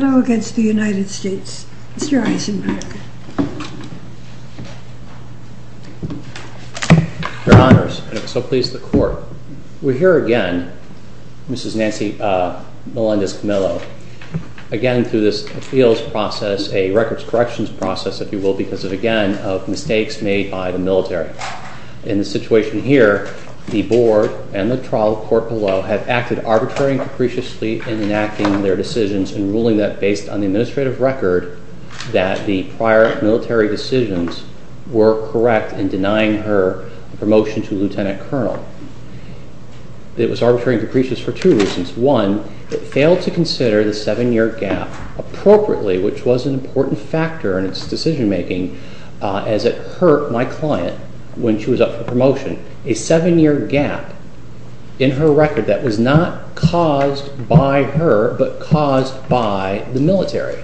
Mr. Eisenberg. Your Honors, and if so please the Court. We're here again, Mrs. Nancy Melendez-Camilo, again through this appeals process, a records corrections process, if you will, because again of mistakes made by the military. In the situation here, the Board and the trial court below have acted arbitrarily and capriciously in enacting their decisions and ruling that, based on the administrative record, that the prior military decisions were correct in denying her promotion to lieutenant colonel. It was arbitrary and capricious for two reasons. One, it failed to consider the seven-year gap appropriately, which was an important factor in its decision-making, as it hurt my client when she was up for promotion. A seven-year gap in her record that was not caused by her, but caused by the military.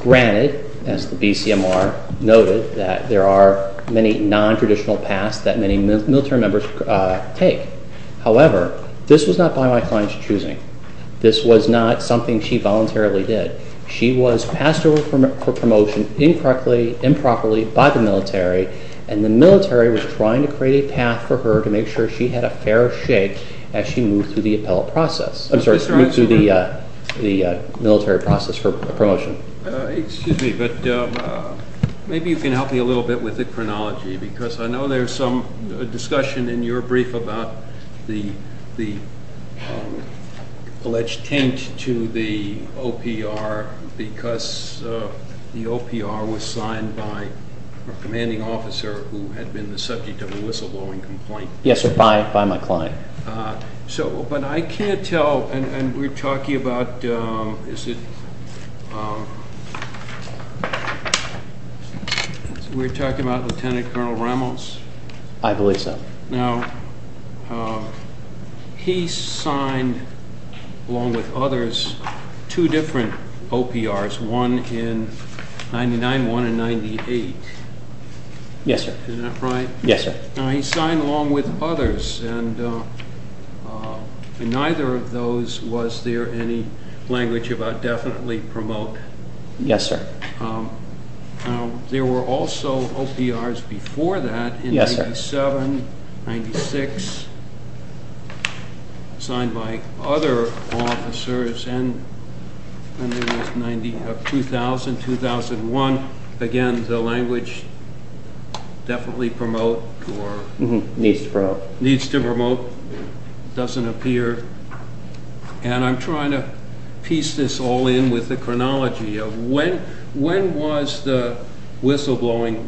Granted, as the BCMR noted, that there are many non-traditional paths that many military members take. However, this was not by my client's choosing. This was not something she voluntarily did. She was passed over for promotion incorrectly, improperly, by the military, and the military was trying to create a path for her to make sure she had a fair shake as she moved through the appellate process. I'm sorry, moved through the military process for promotion. Excuse me, but maybe you can help me a little bit with the chronology, because I know there's some discussion in your brief about the alleged taint to the OPR because the OPR was signed by a commanding officer who had been the subject of a whistleblowing complaint. Yes, sir, by my client. So, but I can't tell, and we're talking about, is it, we're talking about Lieutenant Colonel Ramos? I believe so. Now, he signed, along with others, two different OPRs, one in 99, one in 98. Yes, sir. Is that right? Yes, sir. Now, he signed along with others, and neither of those, was there any language about definitely promote? Yes, sir. There were also OPRs before that. Yes, sir. In 97, 96, signed by other officers, and there was 90, 2000, 2001. Again, the language definitely promote or needs to promote, doesn't appear. And I'm trying to piece this all in with the question, when was the whistleblowing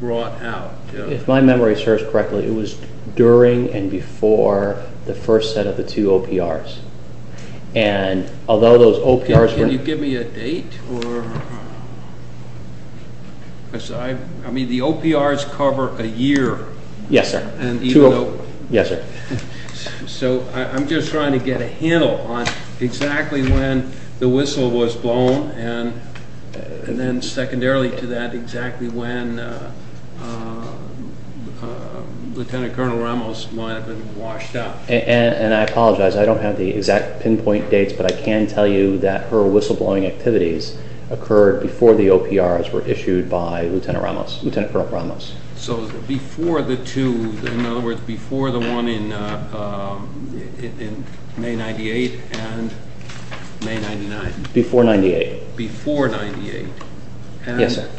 brought out? If my memory serves correctly, it was during and before the first set of the two OPRs. And although those OPRs were... Can you give me a date? I mean, the OPRs cover a year. Yes, sir. And even though... Yes, sir. So, I'm just trying to get a handle on exactly when the whistle was blown, and then secondarily to that, exactly when Lieutenant Colonel Ramos might have been washed out. And I apologize, I don't have the exact pinpoint dates, but I can tell you that her whistleblowing activities occurred before the OPRs were issued by Lieutenant Colonel Ramos. So, before the two, in other words, before the one in May 98 and May 99. Before 98. Before 98. Yes, sir.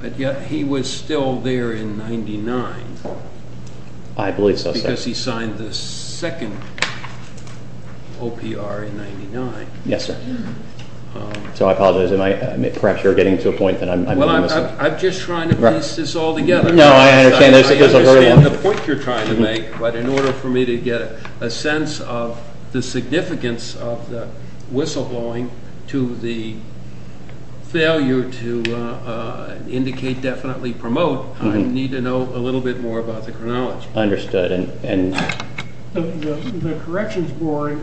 But yet, he was still there in 99. I believe so, sir. Because he signed the second OPR in 99. Yes, sir. So, I apologize, perhaps you're getting to a point that I'm... Well, I'm just trying to piece this all together. No, I understand. I understand the point you're trying to make, but in order for me to get a sense of the significance of the whistleblowing to the failure to indicate definitely promote, I need to know a little bit more about the chronology. Understood. The Corrections Board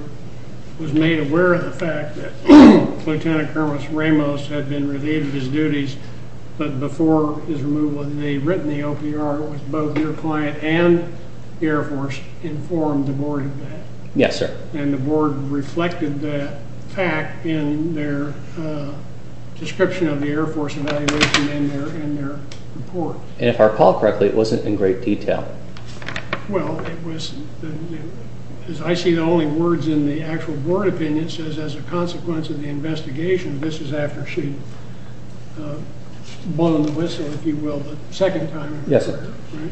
was made aware of the fact that Lieutenant Colonel Ramos had been relieved of his duties, but before his removal, they had written the OPR with both their client and the Air Force, informed the Board of that. Yes, sir. And the Board reflected that fact in their description of the Air Force evaluation in their report. And if I recall correctly, it wasn't in great detail. Well, it was, as I see the only words in the actual Board opinion, it says, as a consequence of the investigation, this is after she blown the whistle, if you will, the second time. Yes, sir. Right?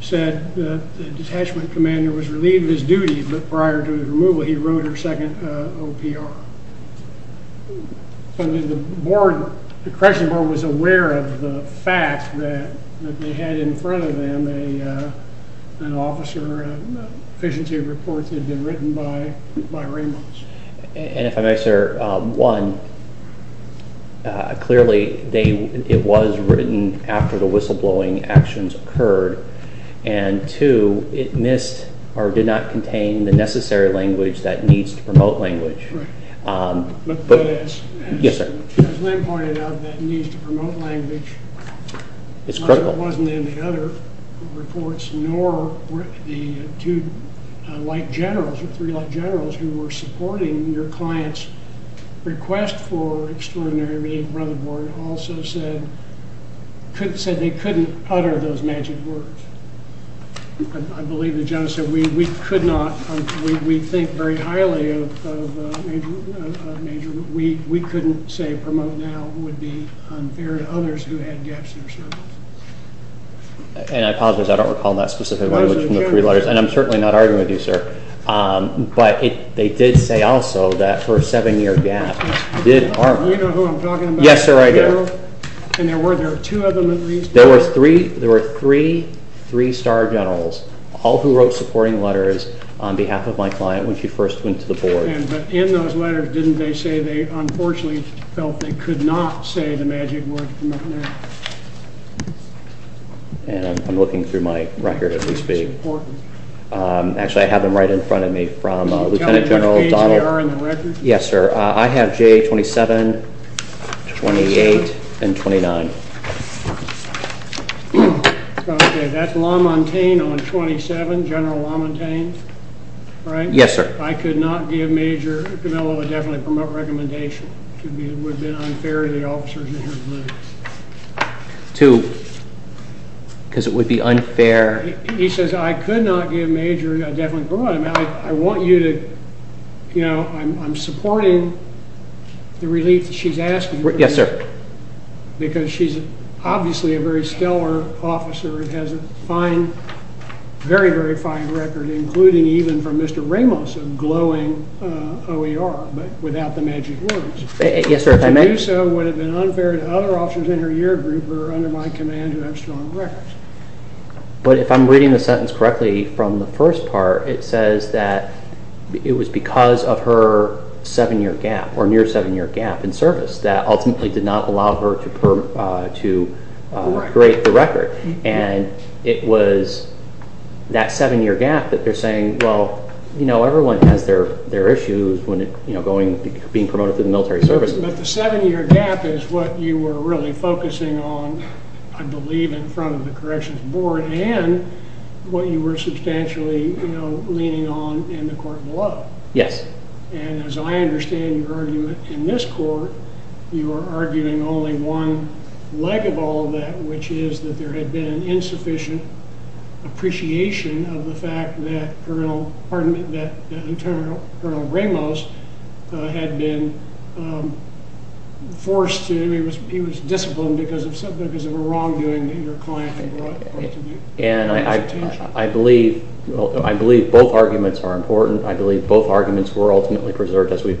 Said the Detachment Commander was relieved of his duty, but prior to his removal, he wrote her second OPR. So, the Board, the Corrections Board was aware of the fact that they had in front of them an officer, efficiency reports had been written by Ramos. And if I may, sir, one, clearly, it was written after the whistle blowing actions occurred, and two, it missed or did not contain the necessary language that needs to promote language. Right. But as Lynn pointed out, that needs to promote language wasn't in the other reports, nor the two light generals or three light generals who were supporting your client's request for extraordinary relief. The Brother Board also said they couldn't utter those magic words. I believe that John said we could not, we think very highly of Major, but we couldn't say promote now would be unfair to others who had gaps in their service. And I apologize, I don't recall that specific language from the three letters. And I'm certainly not arguing with you, sir. But they did say also that for a seven year gap did harm. You know who I'm talking about? Yes, sir, I do. And there were two of them at least. There were three, three star generals, all who wrote supporting letters on behalf of my client when she first went to the Board. But in those letters, didn't they say they unfortunately felt they could not say the And I'm looking through my record as we speak. Actually, I have them right in front of me from Lieutenant General Donald. Yes, sir. I have J27, 28, and 29. Yes, sir. I could not give Major Camillo a definite promote recommendation. It would have been unfair to the officers in her group. Because it would be unfair. He says I could not give Major a definite promote. I want you to, you know, I'm supporting the relief that she's asking for. Yes, sir. Because she's obviously a very stellar officer and has a fine, very, very fine record, including even from Mr. Ramos, a glowing OER, but without the magic words. Yes, sir, if I may. To do so would have been unfair to other officers in her year group who are under my command who have strong records. But if I'm reading the sentence correctly from the first part, it says that it was because of her seven-year gap or near seven-year gap in service that ultimately did not allow her to grade the record. And it was that seven-year gap that they're saying, well, you know, everyone has their issues when, you know, being promoted through the military service. But the seven-year gap is what you were really focusing on, I believe, in front of the Corrections Board and what you were substantially, you know, leaning on in the court below. Yes. And as I understand your argument in this court, you were arguing only one leg of all that, which is that there had been an insufficient appreciation of the fact that Colonel Ramos had been forced to, I mean, he was disciplined because of a wrongdoing that your client had brought to the attention. And I believe both arguments are important. I believe both arguments were ultimately preserved as we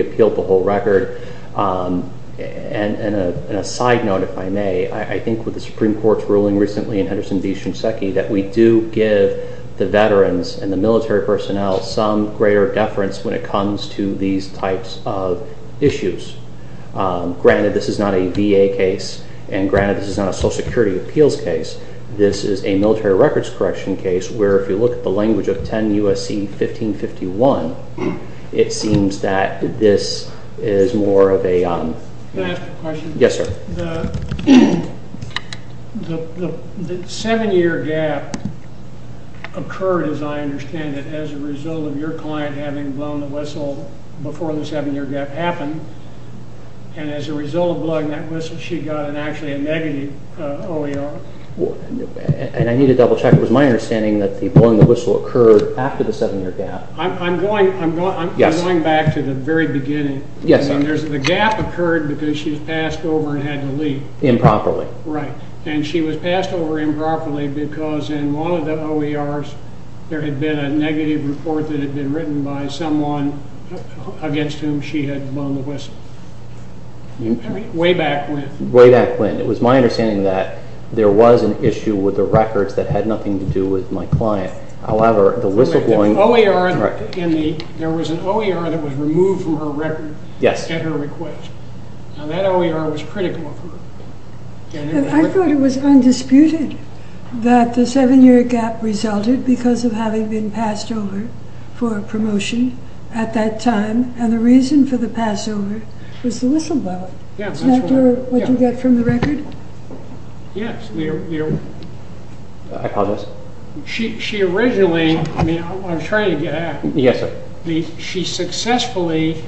appeal the whole record. And a side note, if I may, I think with the Supreme Court's ruling recently in Henderson v. Shinseki that we do give the veterans and the military personnel some greater deference when it comes to these types of issues. Granted, this is not a VA case, and granted this is not a Social Security appeals case. This is a military records correction case where, if you look at the language of 10 U.S.C. 1551, it seems that this is more of a... Can I ask a question? Yes, sir. The seven-year gap occurred, as I understand it, as a result of your client having blown the whistle before the seven-year gap happened. And as a result of blowing that whistle, she got actually a negative OER. And I need to double-check. It was my understanding that the blowing of the whistle occurred after the seven-year gap. I'm going back to the very beginning. Yes, sir. The gap occurred because she was passed over and had to leave. Improperly. Right. And she was passed over improperly because in one of the OERs there had been a negative report that had been written by someone against whom she had blown the whistle. Way back when. Way back when. It was my understanding that there was an issue with the records that had nothing to do with my client. I'll have the whistle blown. There was an OER that was removed from her record at her request. Now, that OER was critical of her. I thought it was undisputed that the seven-year gap resulted because of having been passed over for a promotion at that time, and the reason for the pass over was the whistle blowing. Yes, that's right. After what you got from the record? Yes. I apologize. She originally, I mean, I'm trying to get at it. Yes, sir. She successfully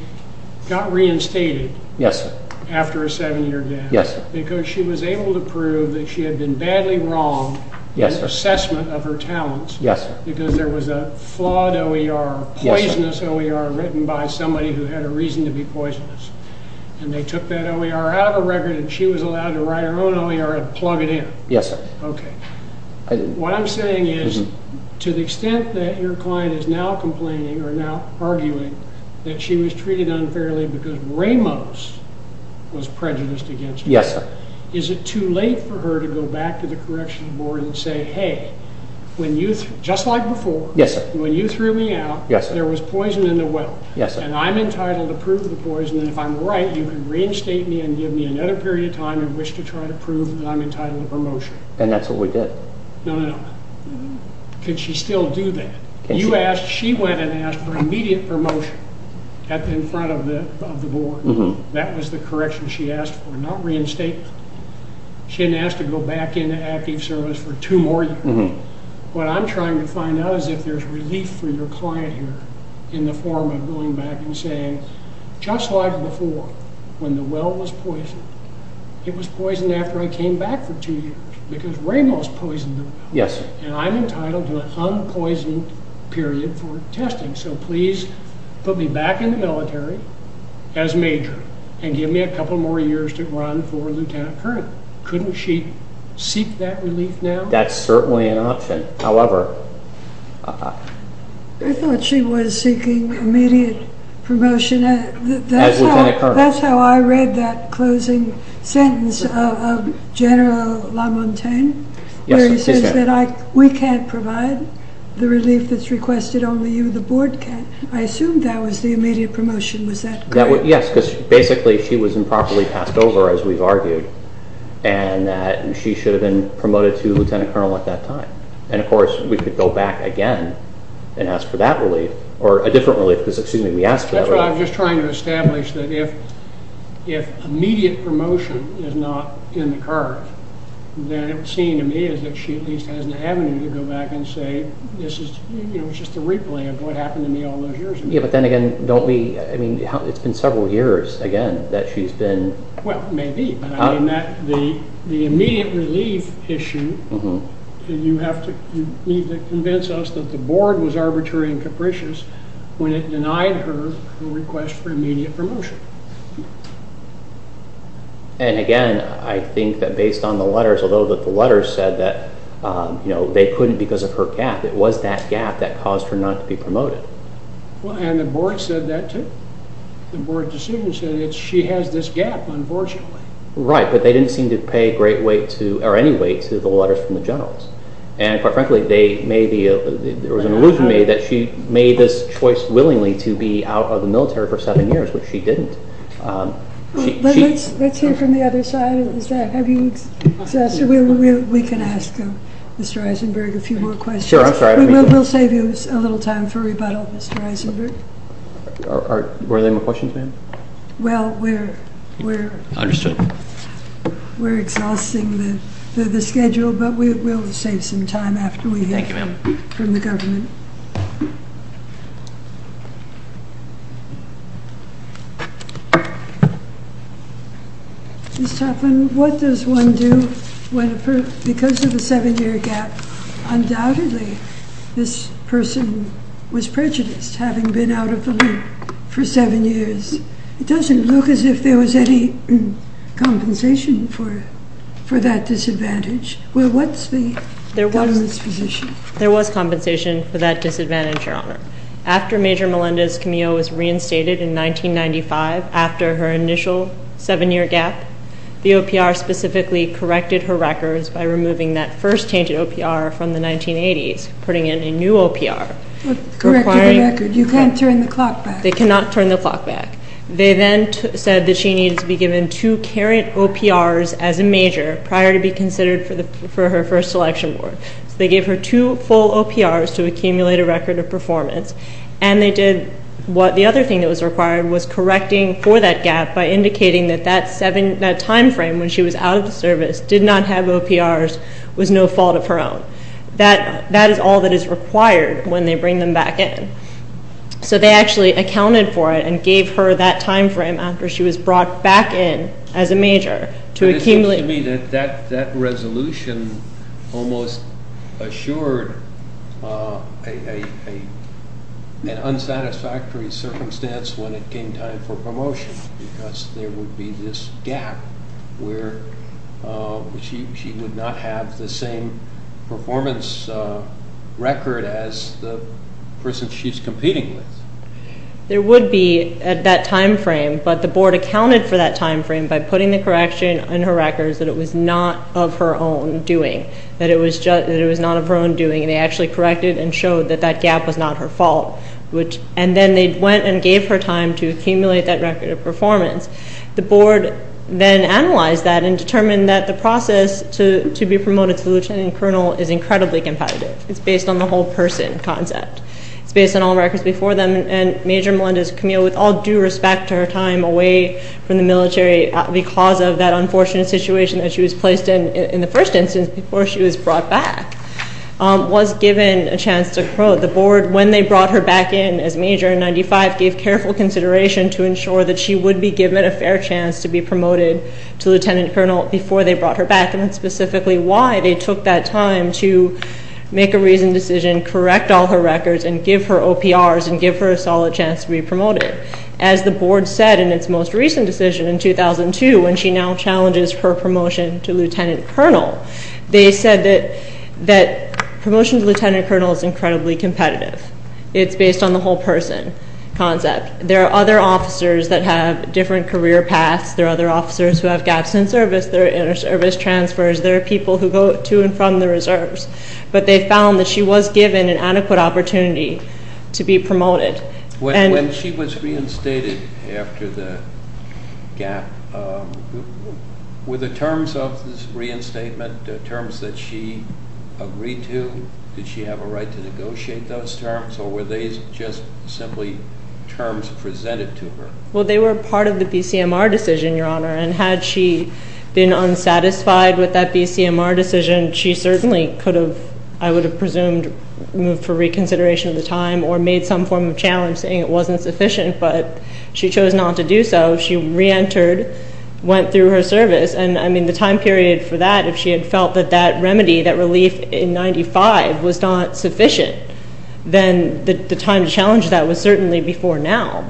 got reinstated after a seven-year gap because she was able to prove that she had been badly wrong in assessment of her talents because there was a flawed OER, a poisonous OER written by somebody who had a reason to be poisonous, and they took that OER out of her record, and she was allowed to write her own OER and plug it in. Yes, sir. Okay. What I'm saying is to the extent that your client is now complaining or now arguing that she was treated unfairly because Ramos was prejudiced against her. Yes, sir. Is it too late for her to go back to the corrections board and say, hey, just like before, when you threw me out, there was poison in the well, and I'm entitled to prove the poison, and if I'm right, you can reinstate me and give me another period of time if I wish to try to prove that I'm entitled to promotion. And that's what we did. No, no, no. Could she still do that? She went and asked for immediate promotion in front of the board. That was the correction she asked for, not reinstate me. She didn't ask to go back into active service for two more years. What I'm trying to find out is if there's relief for your client here in the form of going back and saying, just like before, when the well was poisoned, it was poisoned after I came back for two years because Ramos poisoned the well. Yes. And I'm entitled to an unpoisoned period for testing, so please put me back in the military as major and give me a couple more years to run for lieutenant colonel. That's certainly an option. I thought she was seeking immediate promotion. As lieutenant colonel. That's how I read that closing sentence of General Lamontagne where he says that we can't provide the relief that's requested, only you, the board, can. I assumed that was the immediate promotion. Was that correct? Yes, because basically she was improperly passed over, as we've argued, and she should have been promoted to lieutenant colonel at that time. And, of course, we could go back again and ask for that relief, or a different relief because, excuse me, we asked for that relief. That's what I was just trying to establish, that if immediate promotion is not in the card, then it would seem to me as if she at least has an avenue to go back and say, this is just a replay of what happened to me all those years ago. Yes, but then again, don't we, I mean, it's been several years, again, that she's been. Well, maybe. The immediate relief issue, you have to, you need to convince us that the board was arbitrary and capricious when it denied her a request for immediate promotion. And, again, I think that based on the letters, although the letters said that they couldn't because of her gap, it was that gap that caused her not to be promoted. Well, and the board said that too. The board decision said that she has this gap, unfortunately. Right, but they didn't seem to pay great weight to, or any weight to the letters from the generals. And, quite frankly, they made the, it was an illusion to me that she made this choice willingly to be out of the military for seven years, which she didn't. Let's hear from the other side. Is that, have you, we can ask Mr. Eisenberg a few more questions. Sure, I'm sorry. We'll save you a little time for rebuttal, Mr. Eisenberg. Were there any more questions, ma'am? Well, we're exhausting the schedule, but we'll save some time after we hear from the government. Thank you, ma'am. Ms. Toplin, what does one do when, because of the seven-year gap, undoubtedly this person was prejudiced, having been out of the loop for seven years. It doesn't look as if there was any compensation for that disadvantage. Well, what's the government's position? There was compensation for that disadvantage, Your Honor. After Major Melendez-Camillo was reinstated in 1995, after her initial seven-year gap, the OPR specifically corrected her records by removing that first change of OPR from the 1980s, putting in a new OPR. Correcting the record. You can't turn the clock back. They cannot turn the clock back. They then said that she needed to be given two current OPRs as a major prior to be considered for her first selection board. So they gave her two full OPRs to accumulate a record of performance, and they did what the other thing that was required was correcting for that gap by indicating that that time frame when she was out of the service did not have OPRs was no fault of her own. That is all that is required when they bring them back in. So they actually accounted for it and gave her that time frame after she was brought back in as a major to accumulate. But it seems to me that that resolution almost assured an unsatisfactory circumstance when it came time for promotion because there would be this gap where she would not have the same performance record as the person she's competing with. There would be at that time frame, but the board accounted for that time frame by putting the correction in her records that it was not of her own doing, that it was not of her own doing, and they actually corrected and showed that that gap was not her fault. And then they went and gave her time to accumulate that record of performance. The board then analyzed that and determined that the process to be promoted to lieutenant colonel is incredibly competitive. It's based on the whole person concept. It's based on all records before them, and Major Melendez-Camille, with all due respect to her time away from the military because of that unfortunate situation that she was placed in in the first instance before she was brought back, was given a chance to grow. The board, when they brought her back in as major in 1995, gave careful consideration to ensure that she would be given a fair chance to be promoted to lieutenant colonel before they brought her back, and specifically why they took that time to make a reasoned decision, correct all her records, and give her OPRs and give her a solid chance to be promoted. As the board said in its most recent decision in 2002 when she now challenges her promotion to lieutenant colonel, they said that promotion to lieutenant colonel is incredibly competitive. It's based on the whole person concept. There are other officers that have different career paths. There are other officers who have gaps in service. There are inter-service transfers. There are people who go to and from the reserves. But they found that she was given an adequate opportunity to be promoted. When she was reinstated after the gap, were the terms of this reinstatement terms that she agreed to? Did she have a right to negotiate those terms, or were they just simply terms presented to her? Well, they were part of the BCMR decision, Your Honor, and had she been unsatisfied with that BCMR decision, she certainly could have, I would have presumed, moved for reconsideration of the time or made some form of challenge saying it wasn't sufficient, but she chose not to do so. She reentered, went through her service, and, I mean, the time period for that, if she had felt that that remedy, that relief in 1995 was not sufficient, then the time to challenge that was certainly before now,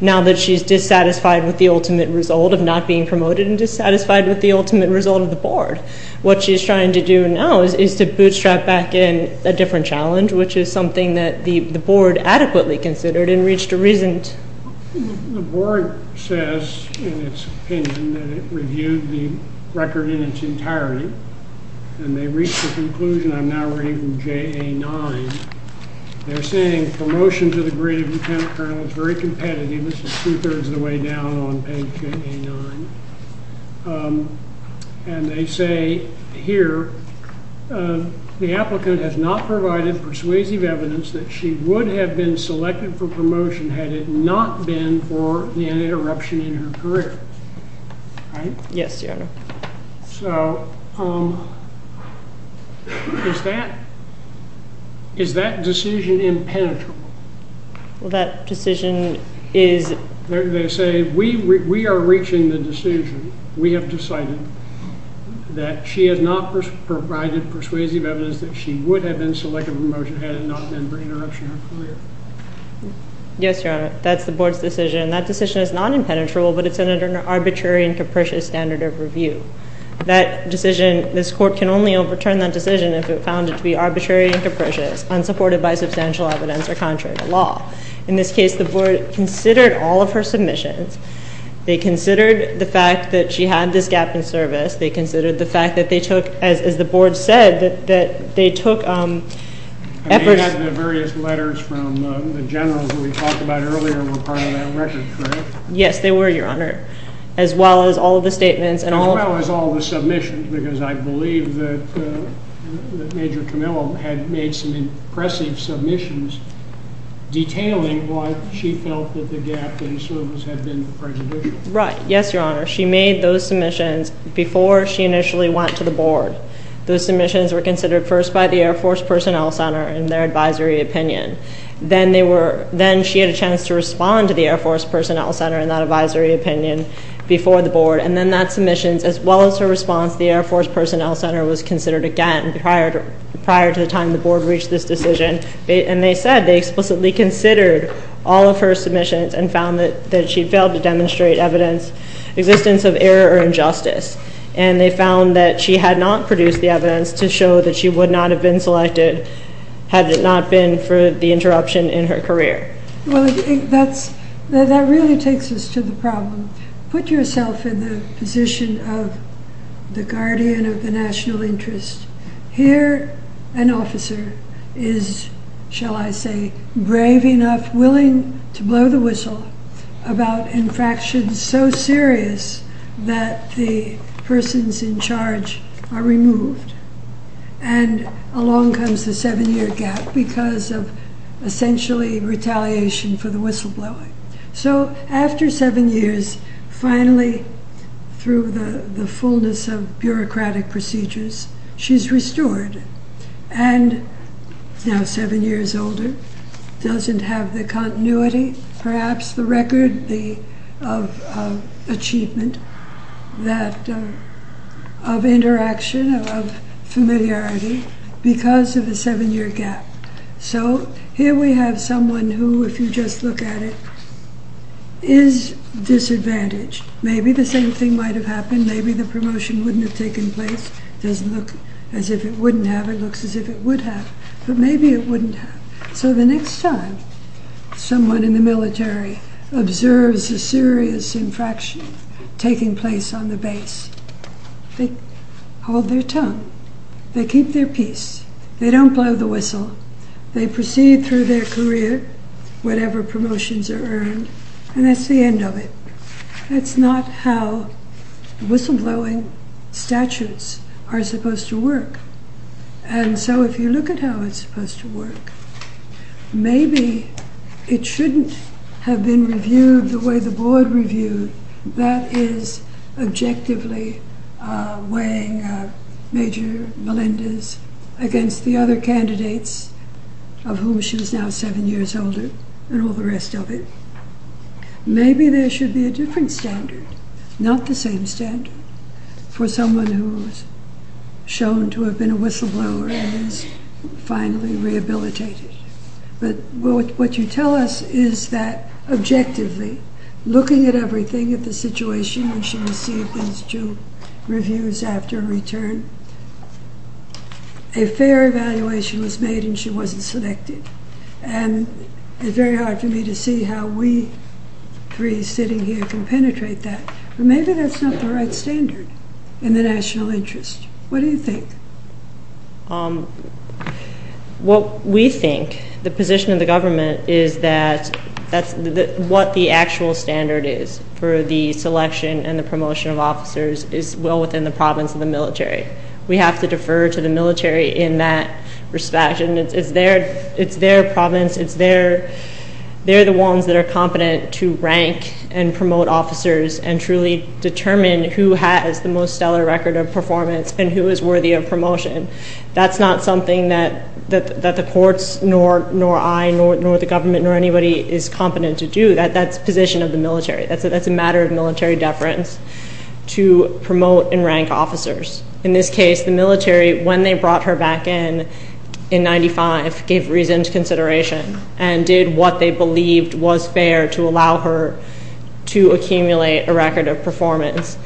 now that she's dissatisfied with the ultimate result of not being promoted and dissatisfied with the ultimate result of the board. What she's trying to do now is to bootstrap back in a different challenge, which is something that the board adequately considered and reached a reason to. The board says in its opinion that it reviewed the record in its entirety, and they reached the conclusion, I'm now reading from JA 9, they're saying promotion to the degree of lieutenant colonel is very competitive, this is two-thirds of the way down on page JA 9, and they say here, the applicant has not provided persuasive evidence that she would have been selected for promotion had it not been for the interruption in her career. Right? Yes, Your Honor. So is that decision impenetrable? Well, that decision is... They say we are reaching the decision, we have decided that she has not provided persuasive evidence that she would have been selected for promotion had it not been for interruption in her career. Yes, Your Honor. That's the board's decision. That decision is not impenetrable, but it's under an arbitrary and capricious standard of review. That decision, this court can only overturn that decision if it found it to be arbitrary and capricious, unsupported by substantial evidence, or contrary to law. In this case, the board considered all of her submissions. They considered the fact that she had this gap in service. They considered the fact that they took, as the board said, that they took efforts... The various letters from the general who we talked about earlier were part of that record, correct? Yes, they were, Your Honor, as well as all of the statements and all... As well as all the submissions, because I believe that Major Camillo had made some impressive submissions detailing why she felt that the gap in service had been prejudicial. Right. Yes, Your Honor. She made those submissions before she initially went to the board. Those submissions were considered first by the Air Force Personnel Center in their advisory opinion. Then she had a chance to respond to the Air Force Personnel Center in that advisory opinion before the board. And then that submission, as well as her response, the Air Force Personnel Center was considered again prior to the time the board reached this decision. And they said they explicitly considered all of her submissions and found that she failed to demonstrate evidence, existence of error or injustice. And they found that she had not produced the evidence to show that she would not have been selected had it not been for the interruption in her career. Well, that really takes us to the problem. Put yourself in the position of the guardian of the national interest. Here, an officer is, shall I say, brave enough, willing to blow the whistle about infractions so serious that the persons in charge are removed. And along comes the seven-year gap because of essentially retaliation for the whistleblowing. So after seven years, finally, through the fullness of bureaucratic procedures, she's restored. And now seven years older, doesn't have the continuity, perhaps the record of achievement, of interaction, of familiarity because of the seven-year gap. So here we have someone who, if you just look at it, is disadvantaged. Maybe the same thing might have happened. Maybe the promotion wouldn't have taken place. It doesn't look as if it wouldn't have. It looks as if it would have. But maybe it wouldn't have. So the next time someone in the military observes a serious infraction taking place on the base, they hold their tongue. They keep their peace. They don't blow the whistle. They proceed through their career, whatever promotions are earned, and that's the end of it. That's not how whistleblowing statutes are supposed to work. And so if you look at how it's supposed to work, maybe it shouldn't have been reviewed the way the board reviewed. That is objectively weighing Major Melendez against the other candidates of whom she was now seven years older and all the rest of it. Maybe there should be a different standard, not the same standard, for someone who is shown to have been a whistleblower and is finally rehabilitated. But what you tell us is that objectively, looking at everything, at the situation when she received those two reviews after her return, a fair evaluation was made and she wasn't selected. And it's very hard for me to see how we three sitting here can penetrate that. Maybe that's not the right standard in the national interest. What do you think? What we think, the position of the government, is that what the actual standard is for the selection and the promotion of officers is well within the province of the military. We have to defer to the military in that respect. It's their province. They're the ones that are competent to rank and promote officers and truly determine who has the most stellar record of performance and who is worthy of promotion. That's not something that the courts, nor I, nor the government, nor anybody is competent to do. That's the position of the military. That's a matter of military deference to promote and rank officers. In this case, the military, when they brought her back in in 1995, gave reasoned consideration and did what they believed was fair to allow her to accumulate a record of performance.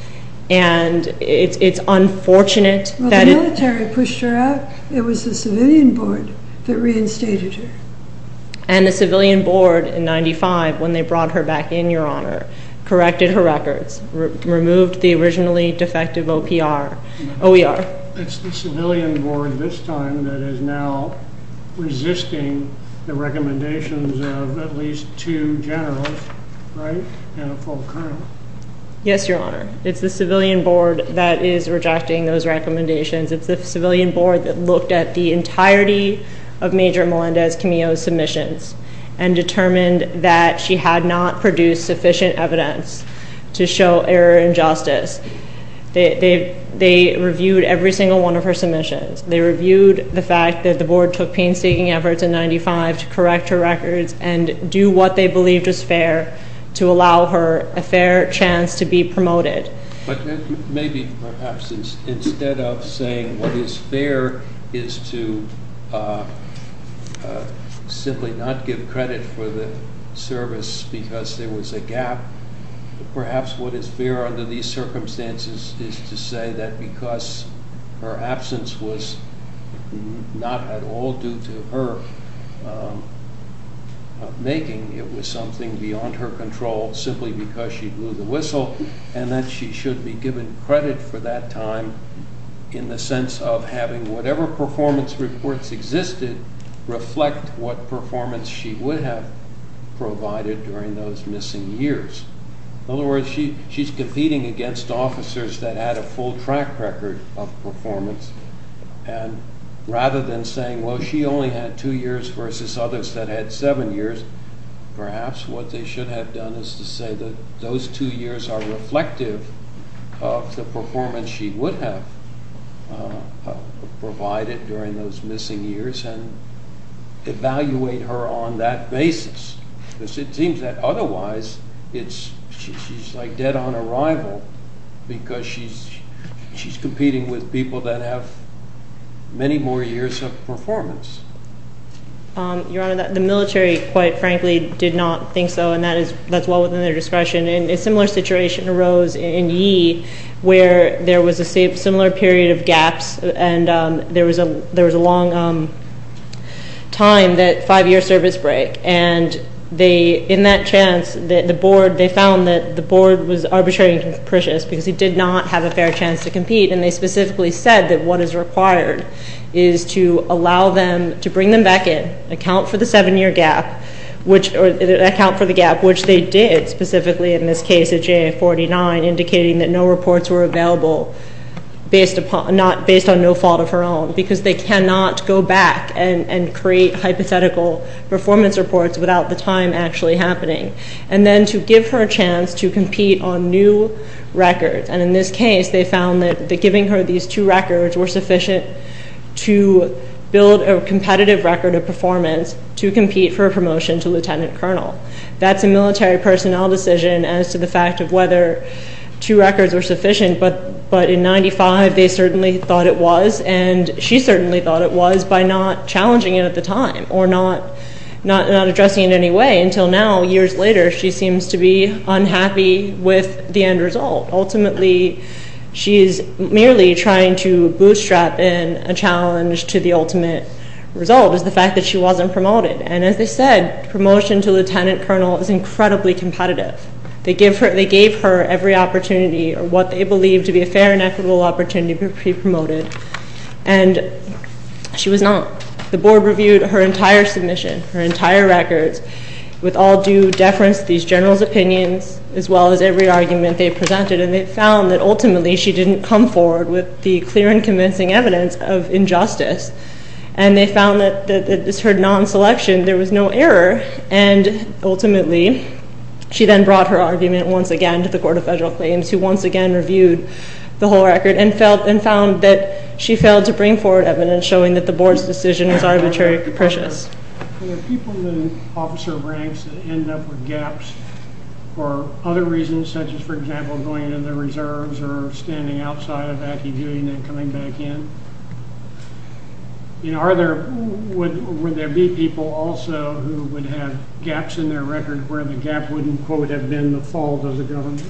And it's unfortunate that it... Well, the military pushed her out. It was the civilian board that reinstated her. And the civilian board in 1995, when they brought her back in, Your Honor, corrected her records, removed the originally defective OER. It's the civilian board this time that is now resisting the recommendations of at least two generals, right, and a full colonel? Yes, Your Honor. It's the civilian board that is rejecting those recommendations. It's the civilian board that looked at the entirety of Major Melendez-Camillo's submissions and determined that she had not produced sufficient evidence to show error and justice. They reviewed every single one of her submissions. They reviewed the fact that the board took painstaking efforts in 1995 to correct her records and do what they believed was fair to allow her a fair chance to be promoted. But maybe perhaps instead of saying what is fair is to simply not give credit for the service because there was a gap, perhaps what is fair under these circumstances is to say that because her absence was not at all due to her making, it was something beyond her control simply because she blew the whistle and that she should be given credit for that time in the sense of having whatever performance reports existed reflect what performance she would have provided during those missing years. In other words, she's competing against officers that had a full track record of performance and rather than saying, well, she only had two years versus others that had seven years, perhaps what they should have done is to say that those two years are reflective of the performance she would have provided during those missing years and evaluate her on that basis because it seems that otherwise she's dead on arrival because she's competing with people that have many more years of performance. Your Honor, the military, quite frankly, did not think so and that's well within their discretion. A similar situation arose in Yee where there was a similar period of gaps and there was a long time, that five-year service break, and in that chance they found that the board was arbitrarily capricious because he did not have a fair chance to compete and they specifically said that what is required is to allow them to bring them back in, account for the seven-year gap, which they did specifically in this case indicating that no reports were available based on no fault of her own because they cannot go back and create hypothetical performance reports without the time actually happening, and then to give her a chance to compete on new records, and in this case they found that giving her these two records were sufficient to build a competitive record of performance to compete for a promotion to lieutenant colonel. That's a military personnel decision as to the fact of whether two records were sufficient, but in 95 they certainly thought it was and she certainly thought it was by not challenging it at the time or not addressing it in any way until now, years later, she seems to be unhappy with the end result. Ultimately, she is merely trying to bootstrap in a challenge to the ultimate result is the fact that she wasn't promoted, and as they said, promotion to lieutenant colonel is incredibly competitive. They gave her every opportunity or what they believed to be a fair and equitable opportunity to be promoted, and she was not. The board reviewed her entire submission, her entire records, with all due deference to these generals' opinions as well as every argument they presented, and they found that ultimately she didn't come forward with the clear and convincing evidence of injustice, and they found that it was her non-selection. There was no error, and ultimately she then brought her argument once again to the Court of Federal Claims who once again reviewed the whole record and found that she failed to bring forward evidence showing that the board's decision was arbitrarily capricious. Were there people in the officer ranks that ended up with gaps or standing outside of Ackie viewing and coming back in? Would there be people also who would have gaps in their record where the gap wouldn't, quote, have been the fault of the governor?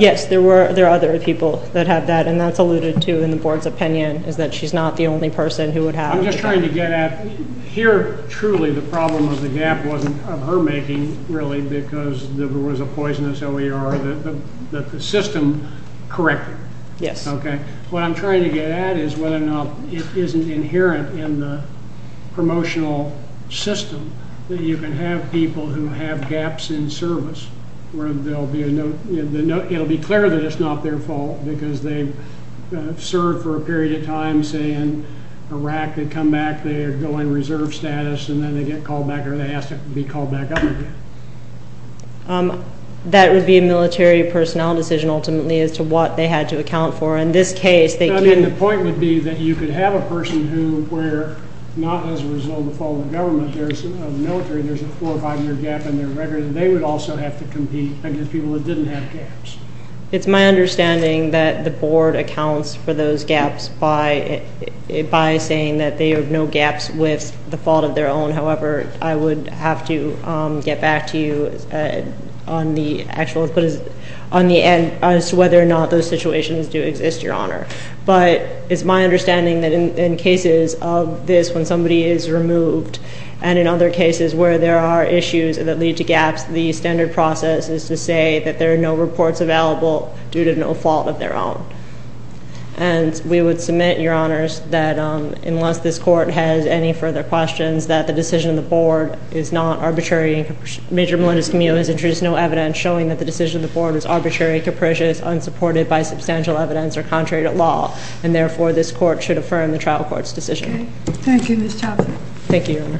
Yes, there are other people that have that, and that's alluded to in the board's opinion is that she's not the only person who would have. I'm just trying to get at here truly the problem of the gap wasn't of her making, really, because there was a poisonous OER that the system corrected. Yes. Okay. What I'm trying to get at is whether or not it isn't inherent in the promotional system that you can have people who have gaps in service where there'll be a note. It'll be clear that it's not their fault because they've served for a period of time saying Iraq, they come back, they go in reserve status, and then they get called back or they ask to be called back up again. That would be a military personnel decision, ultimately, as to what they had to account for. In this case, they didn't. The point would be that you could have a person who were not as a result of the fault of the government. There's a military, there's a four- or five-year gap in their record, and they would also have to compete against people that didn't have gaps. It's my understanding that the board accounts for those gaps by saying that they have no gaps with the fault of their own. However, I would have to get back to you on the actual input on the end as to whether or not those situations do exist, Your Honor. But it's my understanding that in cases of this when somebody is removed and in other cases where there are issues that lead to gaps, the standard process is to say that there are no reports available due to no fault of their own. And we would submit, Your Honors, that unless this court has any further questions, that the decision of the board is not arbitrary. Major Melendez-Camillo has introduced no evidence showing that the decision of the board is arbitrary, capricious, unsupported by substantial evidence, or contrary to law. And therefore, this court should affirm the trial court's decision. Okay. Thank you, Ms. Chaffin. Thank you, Your Honor.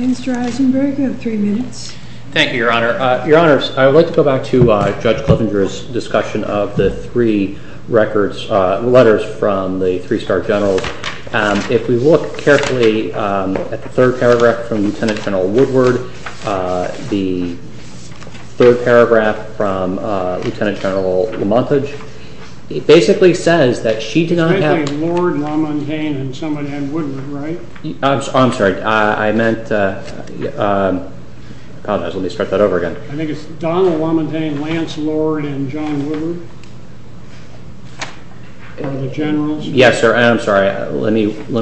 Mr. Eisenberg, you have three minutes. Thank you, Your Honor. Your Honors, I would like to go back to Judge Kloffinger's discussion of the three records, letters from the three star generals. If we look carefully at the third paragraph from Lieutenant General Woodward, the third paragraph from Lieutenant General Lamontage, it basically says that she did not have— It's basically Lord, Ramon Cain, and someone named Woodward, right? I'm sorry. I meant— I apologize. Let me start that over again. I think it's Donald Lamontagne, Lance Lord, and John Woodward. For the generals. Yes, sir. I'm sorry. Let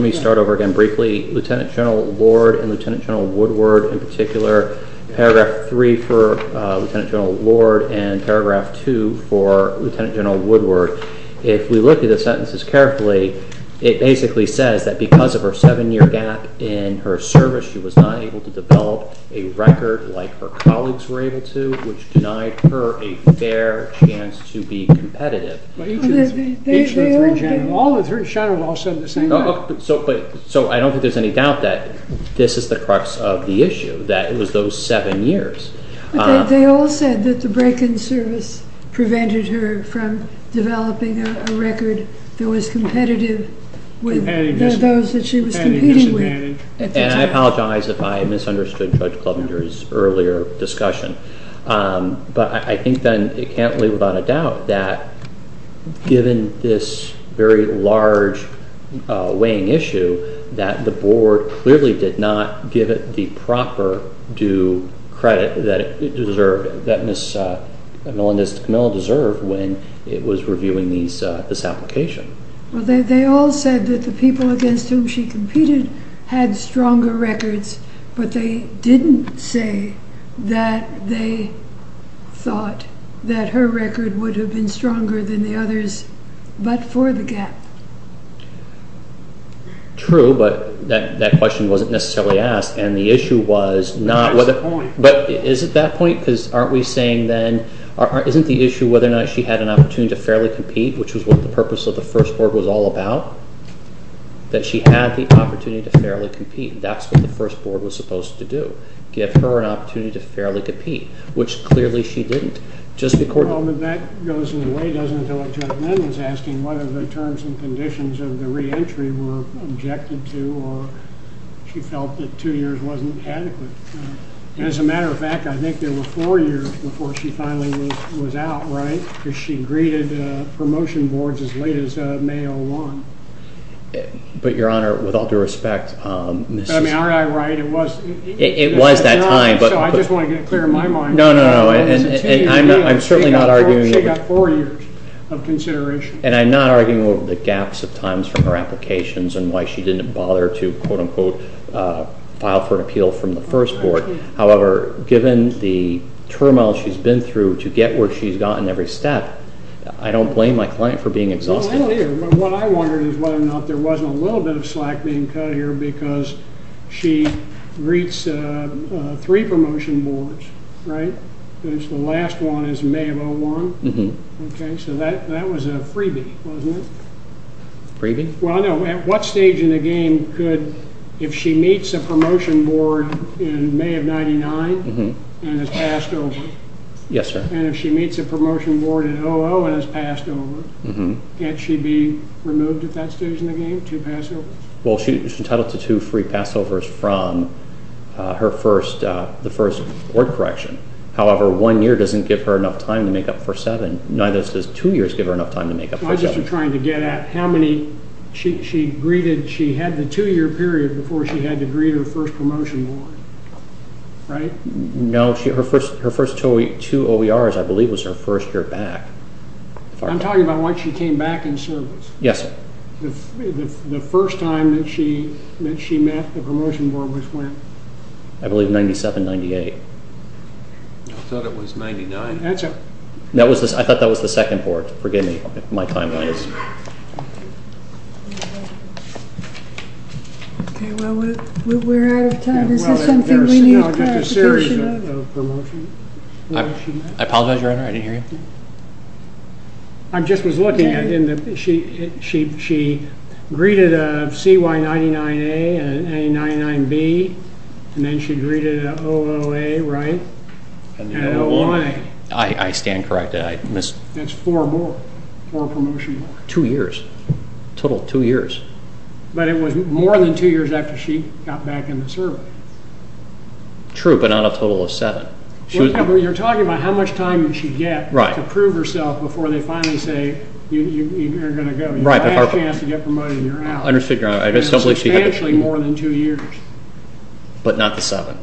me start over again briefly. Lieutenant General Lord and Lieutenant General Woodward in particular. Paragraph three for Lieutenant General Lord and paragraph two for Lieutenant General Woodward. If we look at the sentences carefully, it basically says that because of her seven-year gap in her service, she was not able to develop a record like her colleagues were able to, which denied her a fair chance to be competitive. All the three generals all said the same thing. So I don't think there's any doubt that this is the crux of the issue, that it was those seven years. They all said that the break-in service prevented her from developing a record that was competitive with those that she was competing with. And I apologize if I misunderstood Judge Klovenger's earlier discussion. But I think then it can't leave without a doubt that given this very large weighing issue, that the board clearly did not give it the proper due credit that it deserved, that Ms. Camillo deserved when it was reviewing this application. Well, they all said that the people against whom she competed had stronger records, but they didn't say that they thought that her record would have been stronger than the others, but for the gap. True, but that question wasn't necessarily asked, and the issue was not whether... But that's the point. But is it that point? Because aren't we saying then, isn't the issue whether or not she had an opportunity to fairly compete, which was what the purpose of the first board was all about, that she had the opportunity to fairly compete? That's what the first board was supposed to do, give her an opportunity to fairly compete, which clearly she didn't. Well, but that goes in a way, doesn't it, whether the terms and conditions of the reentry were objected to or she felt that two years wasn't adequate. As a matter of fact, I think there were four years before she finally was out, right, because she greeted promotion boards as late as May 01. But, Your Honor, with all due respect, Ms. I mean, aren't I right? It was that time. So I just want to get it clear in my mind. No, no, no, and I'm certainly not arguing that... And I'm not arguing over the gaps of times from her applications and why she didn't bother to, quote-unquote, file for an appeal from the first board. However, given the turmoil she's been through to get where she's gotten every step, I don't blame my client for being exhausted. No, I don't either. What I wonder is whether or not there wasn't a little bit of slack being cut here because she greets three promotion boards, right, and the last one is May of 01. Okay, so that was a freebie, wasn't it? Freebie? Well, no, at what stage in the game could, if she meets a promotion board in May of 99 and has passed over? Yes, sir. And if she meets a promotion board in 00 and has passed over, can't she be removed at that stage in the game, two passovers? Well, she's entitled to two free passovers from the first board correction. However, one year doesn't give her enough time to make up for seven. Neither does two years give her enough time to make up for seven. I'm just trying to get at how many she greeted. She had the two-year period before she had to greet her first promotion board, right? No, her first two OERs, I believe, was her first year back. I'm talking about when she came back in service. Yes, sir. The first time that she met a promotion board was when? I believe 97, 98. I thought it was 99. I thought that was the second board. Forgive me if my time runs. Okay, well, we're out of time. Is there something we need clarification on? I apologize, Your Honor. I didn't hear you. I just was looking. She greeted a CY99A and an A99B, and then she greeted an OOA, right? I stand corrected. That's four more. Four promotion boards. Two years. A total of two years. But it was more than two years after she got back into service. True, but not a total of seven. You're talking about how much time did she get to prove herself before they finally say you're going to go. You had a chance to get promoted, and you're out. I understand, Your Honor. It was substantially more than two years. But not the seven.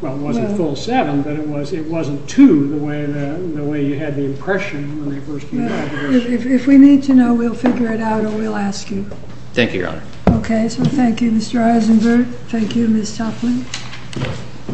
Well, it wasn't a full seven, but it wasn't two the way you had the impression when they first came back. If we need to know, we'll figure it out, or we'll ask you. Thank you, Your Honor. Okay, so thank you, Mr. Eisenberg. Thank you, Ms. Toplin.